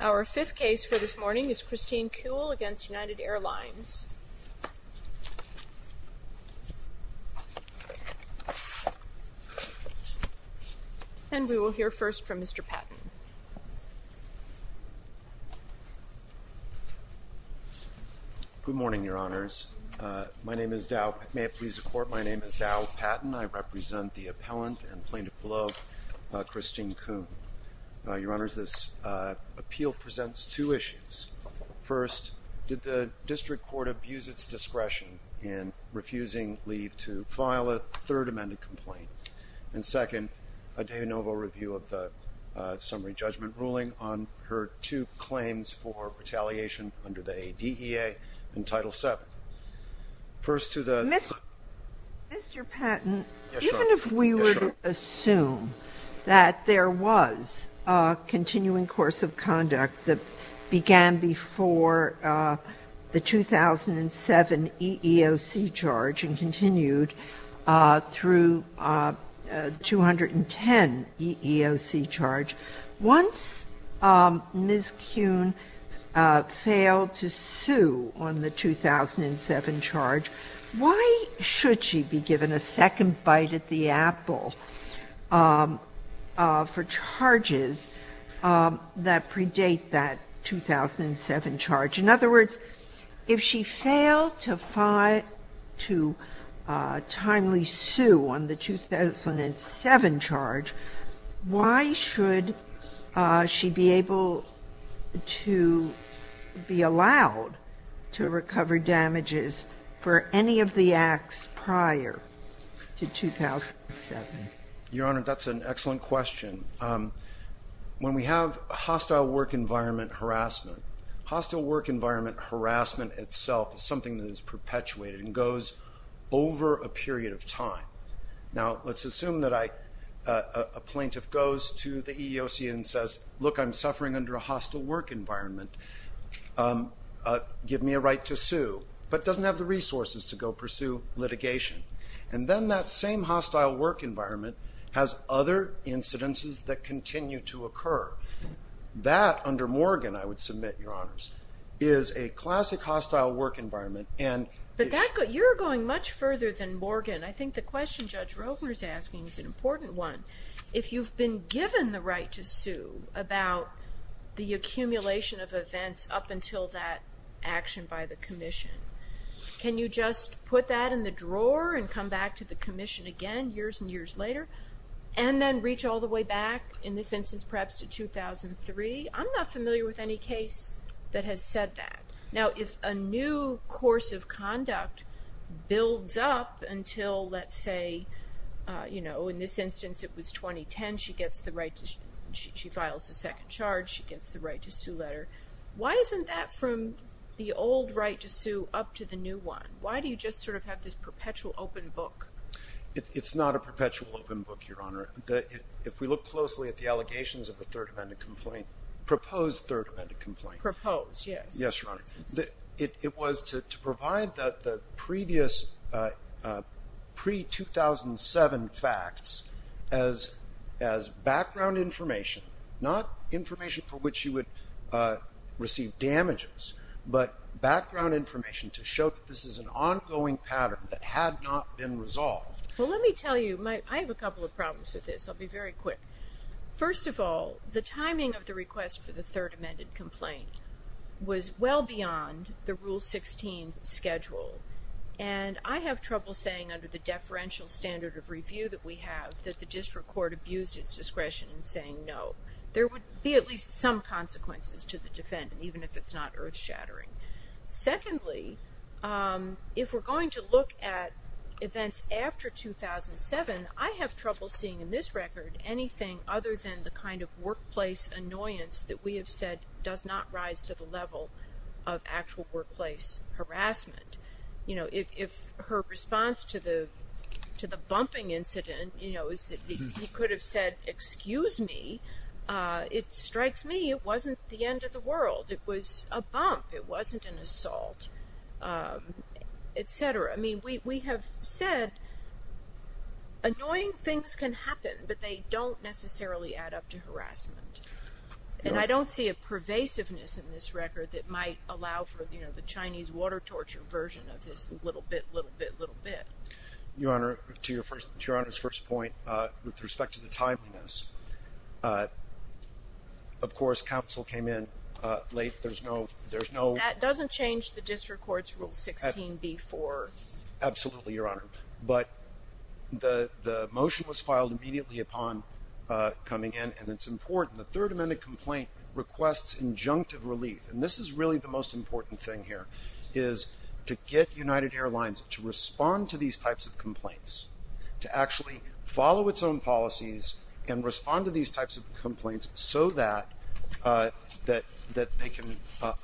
Our fifth case for this morning is Christine Kuhl v. United Airlines. And we will hear first from Mr. Patton. Good morning, Your Honors. My name is Dow Patton. May it please the Court, my name is Dow Patton. I represent the appellant and plaintiff below, Christine Kuhn. Your Honors, this appeal presents two issues. First, did the district court abuse its discretion in refusing leave to file a third amended complaint? And second, a de novo review of the summary judgment ruling on her two claims for retaliation under the ADEA and Title VII. First to the- Mr. Patton, even if we were to assume that there was a continuing course of conduct that began before the 2007 EEOC charge and continued through 210 EEOC charge, once Ms. Kuhn failed to sue on the 2007 charge, why should she be given a second bite at the apple for charges that predate that 2007 charge? In other words, if she failed to file to timely sue on the 2007 charge, why should she be able to be allowed to recover damages for any of the acts prior to 2007? Your Honor, that's an excellent question. When we have hostile work environment harassment, hostile work environment harassment itself is perpetuated and goes over a period of time. Now, let's assume that a plaintiff goes to the EEOC and says, look, I'm suffering under a hostile work environment. Give me a right to sue, but doesn't have the resources to go pursue litigation. And then that same hostile work environment has other incidences that continue to occur. That, under Morgan, I would submit, Your Honors, is a classic hostile work environment. But you're going much further than Morgan. I think the question Judge Rogner's asking is an important one. If you've been given the right to sue about the accumulation of events up until that action by the commission, can you just put that in the drawer and come back to the commission again, years and years later, and then reach all the way back in this instance, perhaps to 2003? I'm not familiar with any case that has said that. Now, if a new course of conduct builds up until, let's say, you know, in this instance, it was 2010, she gets the right to, she files a second charge, she gets the right to sue letter. Why isn't that from the old right to sue up to the new one? Why do you just sort of have this perpetual open book? It's not a perpetual open book, Your Honor. If we look closely at the allegations of a third defendant complaint, proposed third defendant complaint. Proposed, yes. Yes, Your Honor. It was to provide the previous pre-2007 facts as background information, not information for which you would receive damages, but background information to show that this is an ongoing pattern that had not been resolved. Well, let me tell you, I have a couple of problems with this. I'll be very quick. First of all, the timing of request for the third amended complaint was well beyond the Rule 16 schedule, and I have trouble saying under the deferential standard of review that we have that the district court abused its discretion in saying no. There would be at least some consequences to the defendant, even if it's not earth-shattering. Secondly, if we're going to look at events after 2007, I have trouble seeing in this record anything other than the kind of workplace annoyance that we have said does not rise to the level of actual workplace harassment. You know, if her response to the to the bumping incident, you know, is that he could have said, excuse me, it strikes me it wasn't the end of the world. It was a bump. It wasn't an assault, etc. I mean, we have said annoying things can but they don't necessarily add up to harassment, and I don't see a pervasiveness in this record that might allow for, you know, the Chinese water torture version of this little bit, little bit, little bit. Your Honor, to your first, to your Honor's first point, with respect to the timeliness, of course, counsel came in late. There's no, there's no, that doesn't change the district court's rule 16b-4. Absolutely, Your Honor, but the the motion was filed immediately upon coming in, and it's important. The Third Amendment complaint requests injunctive relief, and this is really the most important thing here, is to get United Airlines to respond to these types of complaints, to actually follow its own policies and respond to these types of complaints so that that that they can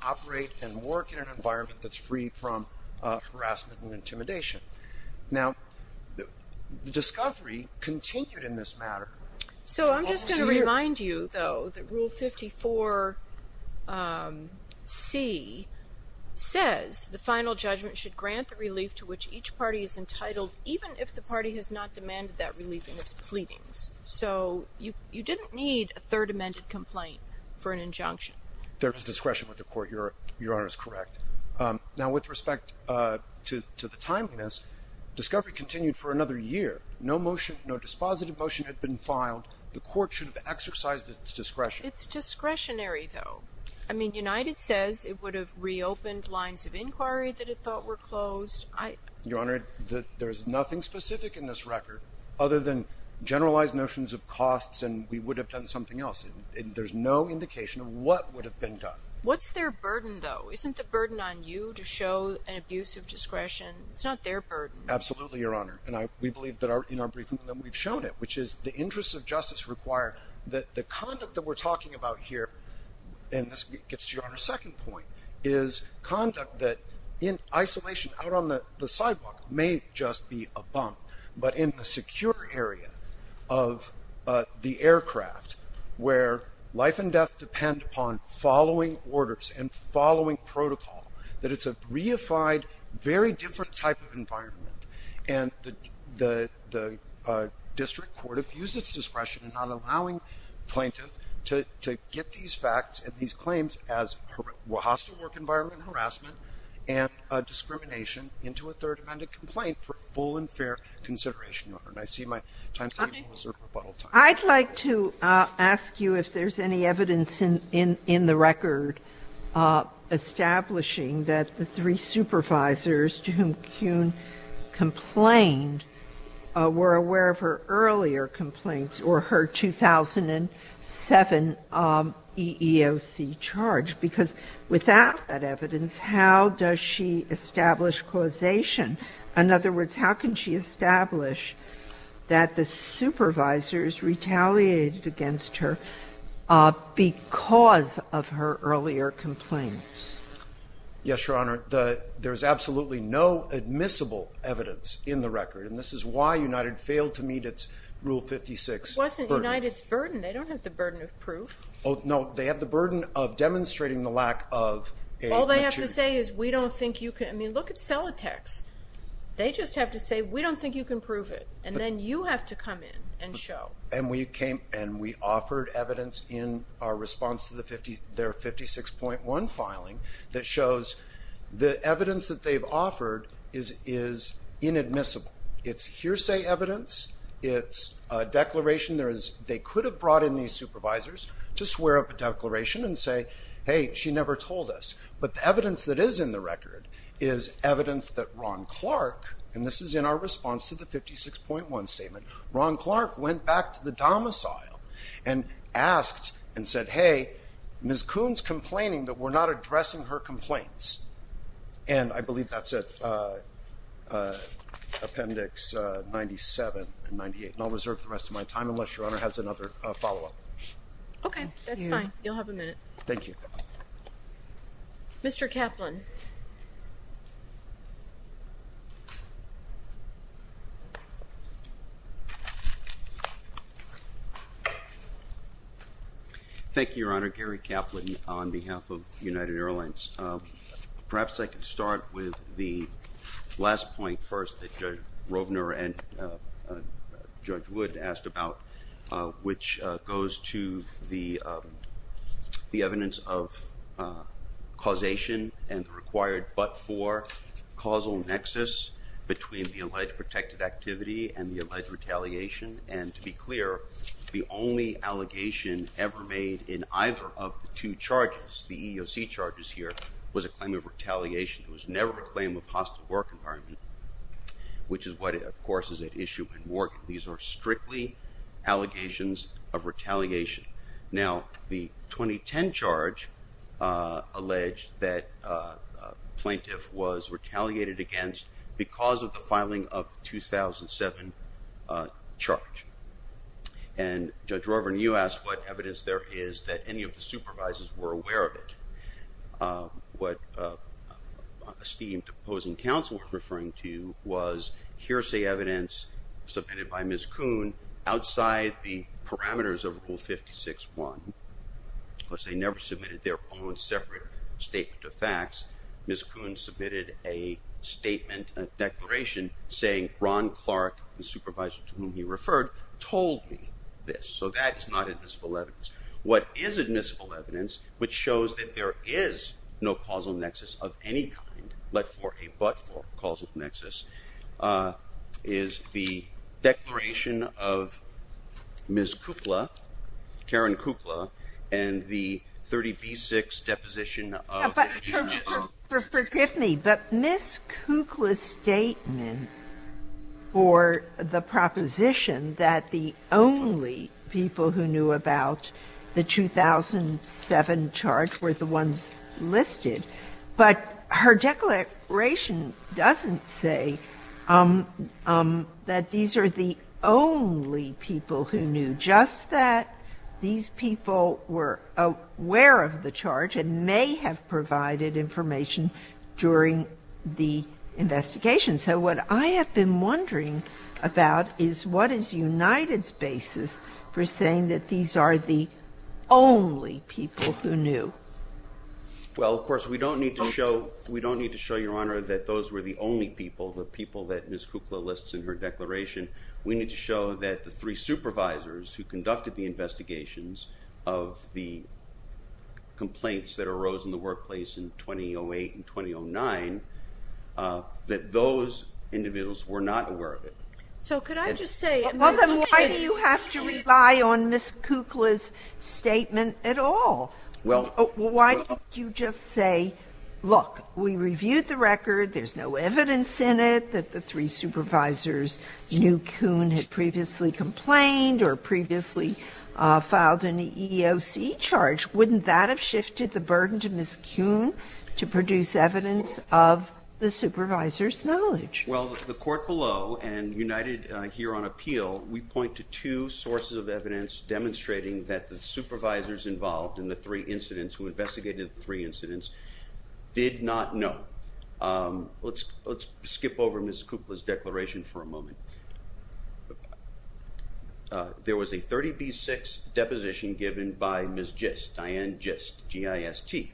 operate and work in an environment that's free from harassment and intimidation. Now, the discovery continued in this matter. So I'm just going to remind you, though, that Rule 54c says the final judgment should grant the relief to which each party is entitled, even if the party has not demanded that relief in its pleadings. So you didn't need a Third Amendment complaint for an injunction. There's discretion with the court, Your Honor, is correct. Now, with respect to the timeliness, discovery continued for another year. No motion, no dispositive motion had been filed. The court should have exercised its discretion. It's discretionary, though. I mean, United says it would have reopened lines of inquiry that it thought were closed. Your Honor, there's nothing specific in this record other than generalized notions of costs and we would have done something else. There's no indication of what would have been done. What's their burden, though? Isn't the burden on you to show an abuse of discretion? It's not their burden. Absolutely, Your Honor. And we believe that in our briefing that we've shown it, which is the interests of justice require that the conduct that we're talking about here, and this gets to Your Honor's second point, is conduct that in isolation out on the sidewalk may just be a bump, but in the secure area of the aircraft where life and death depend upon following orders and following protocol, that it's a reified, very different type of environment. And the district court abused its discretion in not allowing plaintiffs to get these facts and these claims as hostile work environment harassment and discrimination into a third amended complaint for full and fair consideration, Your Honor. And I see my time's running closer to rebuttal time. I'd like to ask you if there's any evidence in the record establishing that the three supervisors to whom Kuhn complained were aware of her earlier complaints or her 2007 EEOC charge? Because without that evidence, how does she establish causation? In other words, how can she establish that the supervisors retaliated against her because of her earlier complaints? Yes, Your Honor. There's absolutely no admissible evidence in the record, and this is why United failed to meet its Rule 56. It wasn't United's burden. They don't have the burden of proof. Oh, no. They have the burden of demonstrating the lack of a... All they have to say is, we don't think you can... I mean, look at Celatex. They just have to say, we don't think you can prove it. And then you have to come in and show. And we came and we offered evidence in our response to their 56.1 filing that shows the evidence that they've offered is inadmissible. It's hearsay evidence. It's a declaration. They could have brought in these supervisors to swear up a declaration and say, hey, she never told us. But the evidence that is in the record is evidence that Ron Clark, and this is in our response to the 56.1 statement, Ron Clark went back to the domicile and asked and said, hey, Ms. Kuhn's complaining that we're not addressing her complaints. And I believe that's at Appendix 97 and 98. And I'll reserve the rest of my time unless your Honor has another follow-up. Okay, that's fine. You'll have a minute. Thank you. Mr. Kaplan. Thank you, Your Honor. Gary Kaplan on behalf of United Airlines. Perhaps I could start with the last point first that Judge Roebner and Judge Wood asked about, which goes to the required but-for causal nexus between the alleged protected activity and the alleged retaliation. And to be clear, the only allegation ever made in either of the two charges, the EEOC charges here, was a claim of retaliation. It was never a claim of hostile work environment, which is what, of course, is at issue in Morgan. These are strictly allegations of retaliation. Now, the 2010 charge alleged that a plaintiff was retaliated against because of the filing of the 2007 charge. And Judge Roebner, you asked what evidence there is that any of the supervisors were aware of it. What esteemed opposing counsel was referring to was hearsay evidence submitted by Ms. Kuhn outside the parameters of Rule 56-1. Of course, they never submitted their own separate statement of facts. Ms. Kuhn submitted a statement, a declaration, saying Ron Clark, the supervisor to whom he referred, told me this. So that is not admissible evidence. What is admissible evidence, which shows that there is no causal nexus, is the declaration of Ms. Kukla, Karen Kukla, and the 30B-6 deposition of Ms. Roebner. Forgive me, but Ms. Kukla's statement for the proposition that the only people who knew about the 2007 charge were the ones listed. But her declaration doesn't say that these are the only people who knew, just that these people were aware of the charge and may have provided information during the investigation. So what I have been wondering about is what is United's basis for saying that these are the only people who knew? Well, of course, we don't need to show Your Honor that those were the only people, the people that Ms. Kukla lists in her declaration. We need to show that the three supervisors who conducted the investigations of the complaints that arose in the workplace in 2008 and 2009, that those individuals were not aware of it. So could I just say Well, then why do you have to rely on Ms. Kukla's statement at all? Why don't you just say, look, we reviewed the record. There's no evidence in it that the three supervisors knew Kuhn had previously complained or previously filed an EEOC charge. Wouldn't that have shifted the burden to Ms. Kuhn to produce evidence of the supervisor's knowledge? Well, the court below and United here on appeal, we point to two sources of evidence demonstrating that the supervisors involved in the three incidents who investigated the three incidents did not know. Let's skip over Ms. Kukla's declaration for a moment. There was a 30B6 deposition given by Ms. Gist, Diane Gist, G-I-S-T.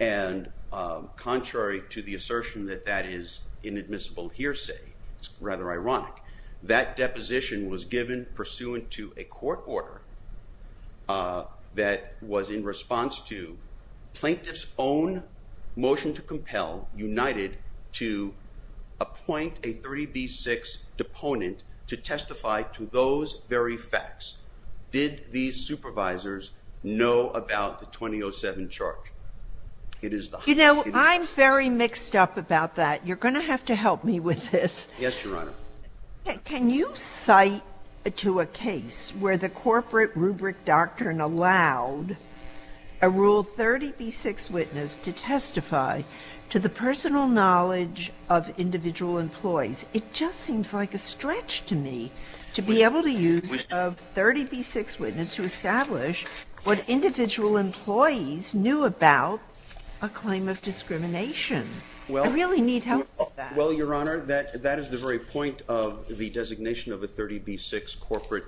And contrary to the assertion that that is inadmissible hearsay, it's rather ironic. That deposition was given pursuant to a court order that was in response to plaintiff's own motion to compel United to appoint a 30B6 deponent to testify to those very facts. Did these supervisors know about the 2007 charge? You know, I'm very mixed up about that. You're going to have to help me with this. Yes, Your Honor. Can you cite to a case where the corporate rubric doctrine allowed a Rule 30B6 witness to testify to the personal knowledge of individual employees? It just seems like a stretch to me to be able to use a 30B6 witness to establish what individual employees knew about a claim of discrimination. I really need help with that. Well, Your Honor, that is the very point of the designation of a 30B6 corporate...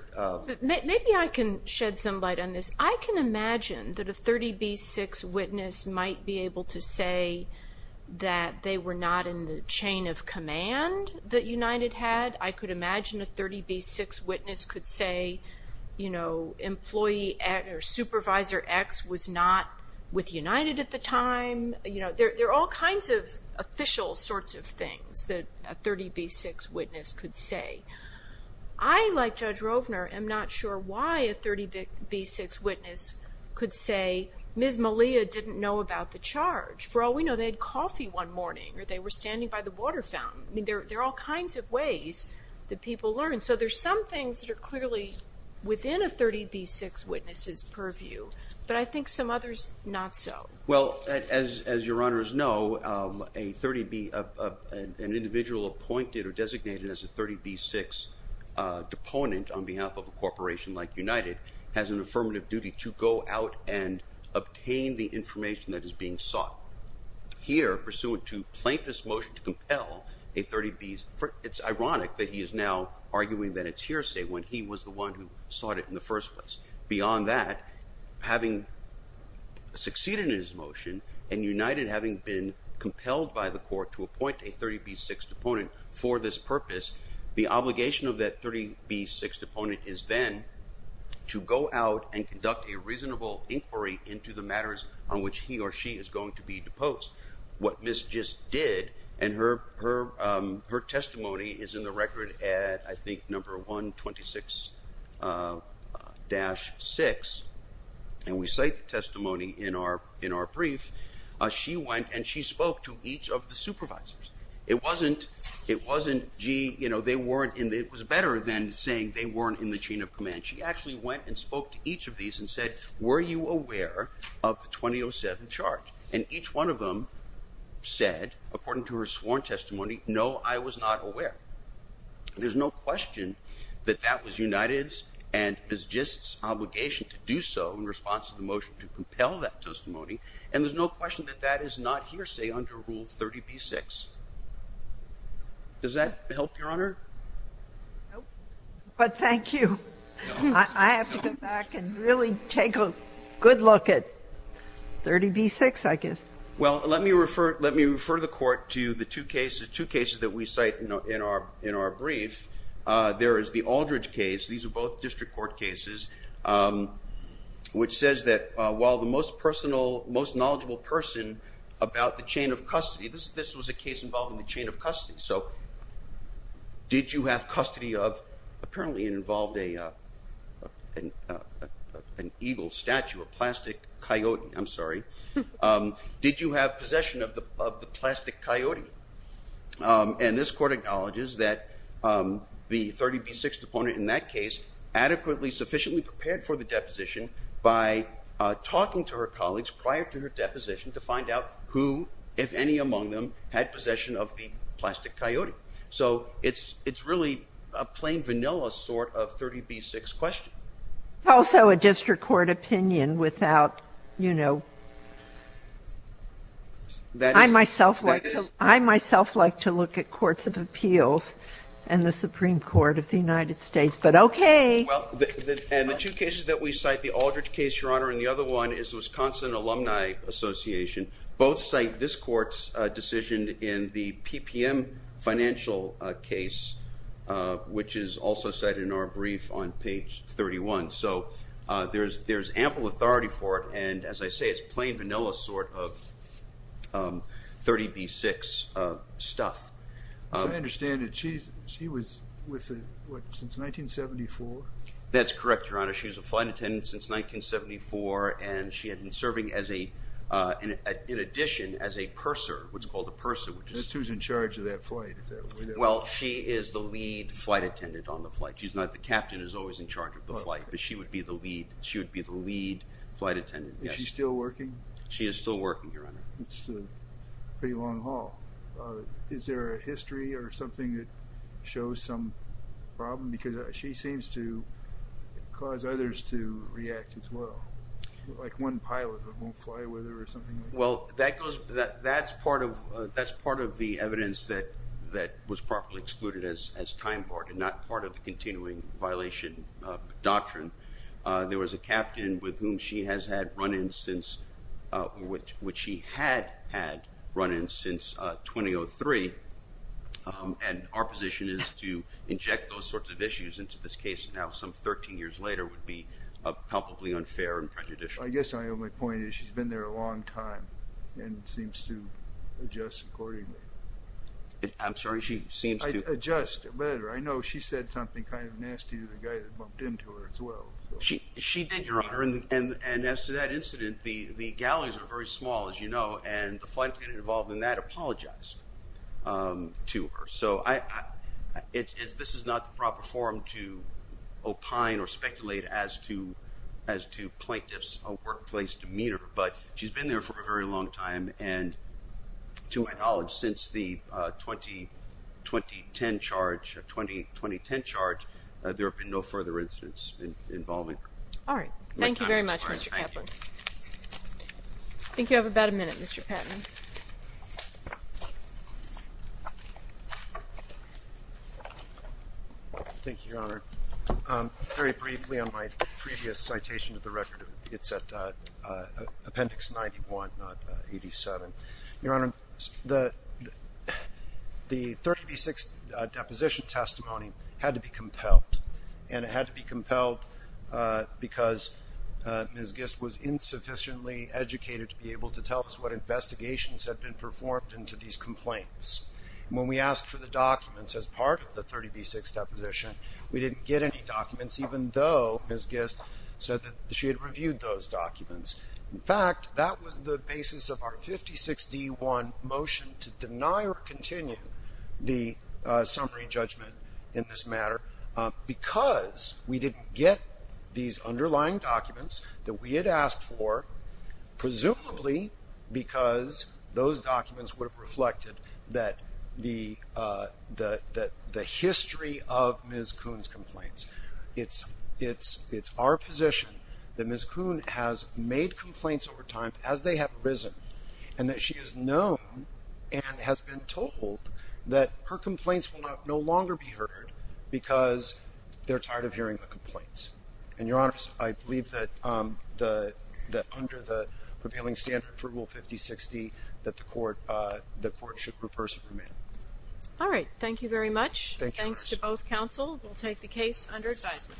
Maybe I can shed some light on this. I can imagine that a 30B6 witness might be able to say that they were not in the chain of command that United had. I could imagine a 30B6 witness could say, you know, employee or supervisor X was not with United at the time. You know, there are all kinds of official sorts of things that a 30B6 witness could say. I, like Judge Rovner, am not sure why a 30B6 witness could say Ms. Malia didn't know about the charge. For all we know, they had coffee one morning or they were standing by the water fountain. I mean, there are all kinds of ways that people learn. So there's some things that are clearly within a 30B6 witness's purview, but I think some others, not so. Well, as Your Honors know, an individual appointed or designated as a 30B6 deponent on behalf of a corporation like United has an affirmative duty to go out and obtain the information that is being sought. Here, pursuant to plaintiff's motion to compel a 30B6... It's ironic that he is now arguing that it's hearsay when he was the one who sought it in the first place. Beyond that, having succeeded in his motion and United having been compelled by the court to appoint a 30B6 deponent is then to go out and conduct a reasonable inquiry into the matters on which he or she is going to be deposed. What Ms. just did, and her testimony is in the record at, I think, number 126-6, and we cite the testimony in our brief. She went and she spoke to each of the supervisors. It wasn't, gee, it was better than saying they weren't in the chain of command. She actually went and spoke to each of these and said, were you aware of the 2007 charge? And each one of them said, according to her sworn testimony, no, I was not aware. There's no question that that was United's and Ms. just's obligation to do so in response to the motion to compel that testimony, and there's no question that that is not hearsay under Rule 30B6. Does that help, Your Honor? Nope, but thank you. I have to go back and really take a good look at 30B6, I guess. Well, let me refer, let me refer the court to the two cases, two cases that we cite in our, in our brief. There is the Aldridge case. These are both district court cases, which says that while the most personal, most knowledgeable person about the chain of custody, this, this was a case involving the chain of custody. So did you have custody of, apparently it involved a, an eagle statue, a plastic coyote, I'm sorry. Did you have possession of the, of the plastic coyote? And this court acknowledges that the 30B6 deponent in that case adequately, sufficiently prepared for the deposition by talking to her colleagues prior to her deposition to find out who, if any among them, had possession of the plastic coyote. So it's, it's really a plain vanilla sort of 30B6 question. Also a district court opinion without, you know, I myself, I myself like to look at courts of appeals and the Supreme Court of the United States, but okay. Well, and the two cases that we cite, the Aldridge case, Your Honor, and the other one is Wisconsin Alumni Association. Both cite this court's decision in the PPM financial case, which is also cited in our brief on page 31. So there's, there's ample authority for it. And as I say, it's plain vanilla sort of 30B6 stuff. So I understand that she, she was with what, since 1974? That's correct, Your Honor. She was a flight attendant since 1974 and she had been serving as a, in addition, as a purser, what's called a purser. That's who's in charge of that flight, is that what it is? Well, she is the lead flight attendant on the flight. She's not the captain who's always in charge of the flight, but she would be the lead. She would be the lead flight attendant. Is she still working? She is still working, Your Honor. It's a pretty long haul. Is there a history or something that shows some problem? Because she seems to cause others to react as well, like one pilot that won't fly with her or something. Well, that goes, that's part of, that's part of the evidence that, that was properly excluded as, as time barred and not part of the continuing violation doctrine. There was a captain with whom she has had run-ins since, which, which she had had run-ins since 2003, and our position is to inject those sorts of issues into this case now some 13 years later would be probably unfair and prejudicial. I guess I only point is she's been there a long time and seems to adjust accordingly. I'm sorry, she seems to adjust better. I know she said something kind of nasty to the guy that bumped into her as well. She, she did, Your Honor, and, and as to that incident, the, the galleries are very small, as you know, and the flight attendant involved in that apologized to her. So I, it's, it's, this is not the proper forum to opine or speculate as to, as to plaintiff's workplace demeanor, but she's been there for a very long time and to my knowledge since the 20, 2010 charge, 20, 2010 charge, there have been no further incidents involving her. All right. Thank you very much, Mr. Kaplan. I think you have about a minute, Mr. Patton. Thank you, Your Honor. Very briefly on my previous citation of the record, it's at appendix 91, not 87. Your Honor, the, the 30B6 deposition testimony had to be compelled and it had to be compelled because Ms. Gist was insufficiently educated to be able to tell us what investigations had been performed into these complaints. When we asked for the documents as part of the 30B6 deposition, we didn't get any documents, even though Ms. Gist said that she reviewed those documents. In fact, that was the basis of our 56D1 motion to deny or continue the summary judgment in this matter because we didn't get these underlying documents that we had asked for, presumably because those documents would have reflected that the, uh, the, the, the history of Ms. Kuhn's complaints. It's, it's, it's our position that Ms. Kuhn has made complaints over time as they have arisen and that she is known and has been told that her complaints will not, no longer be heard because they're tired of hearing the complaints. And Your Honor, I believe that, um, the, the, under the prevailing standard for Rule 5060 that the court, uh, the both counsel will take the case under advisement.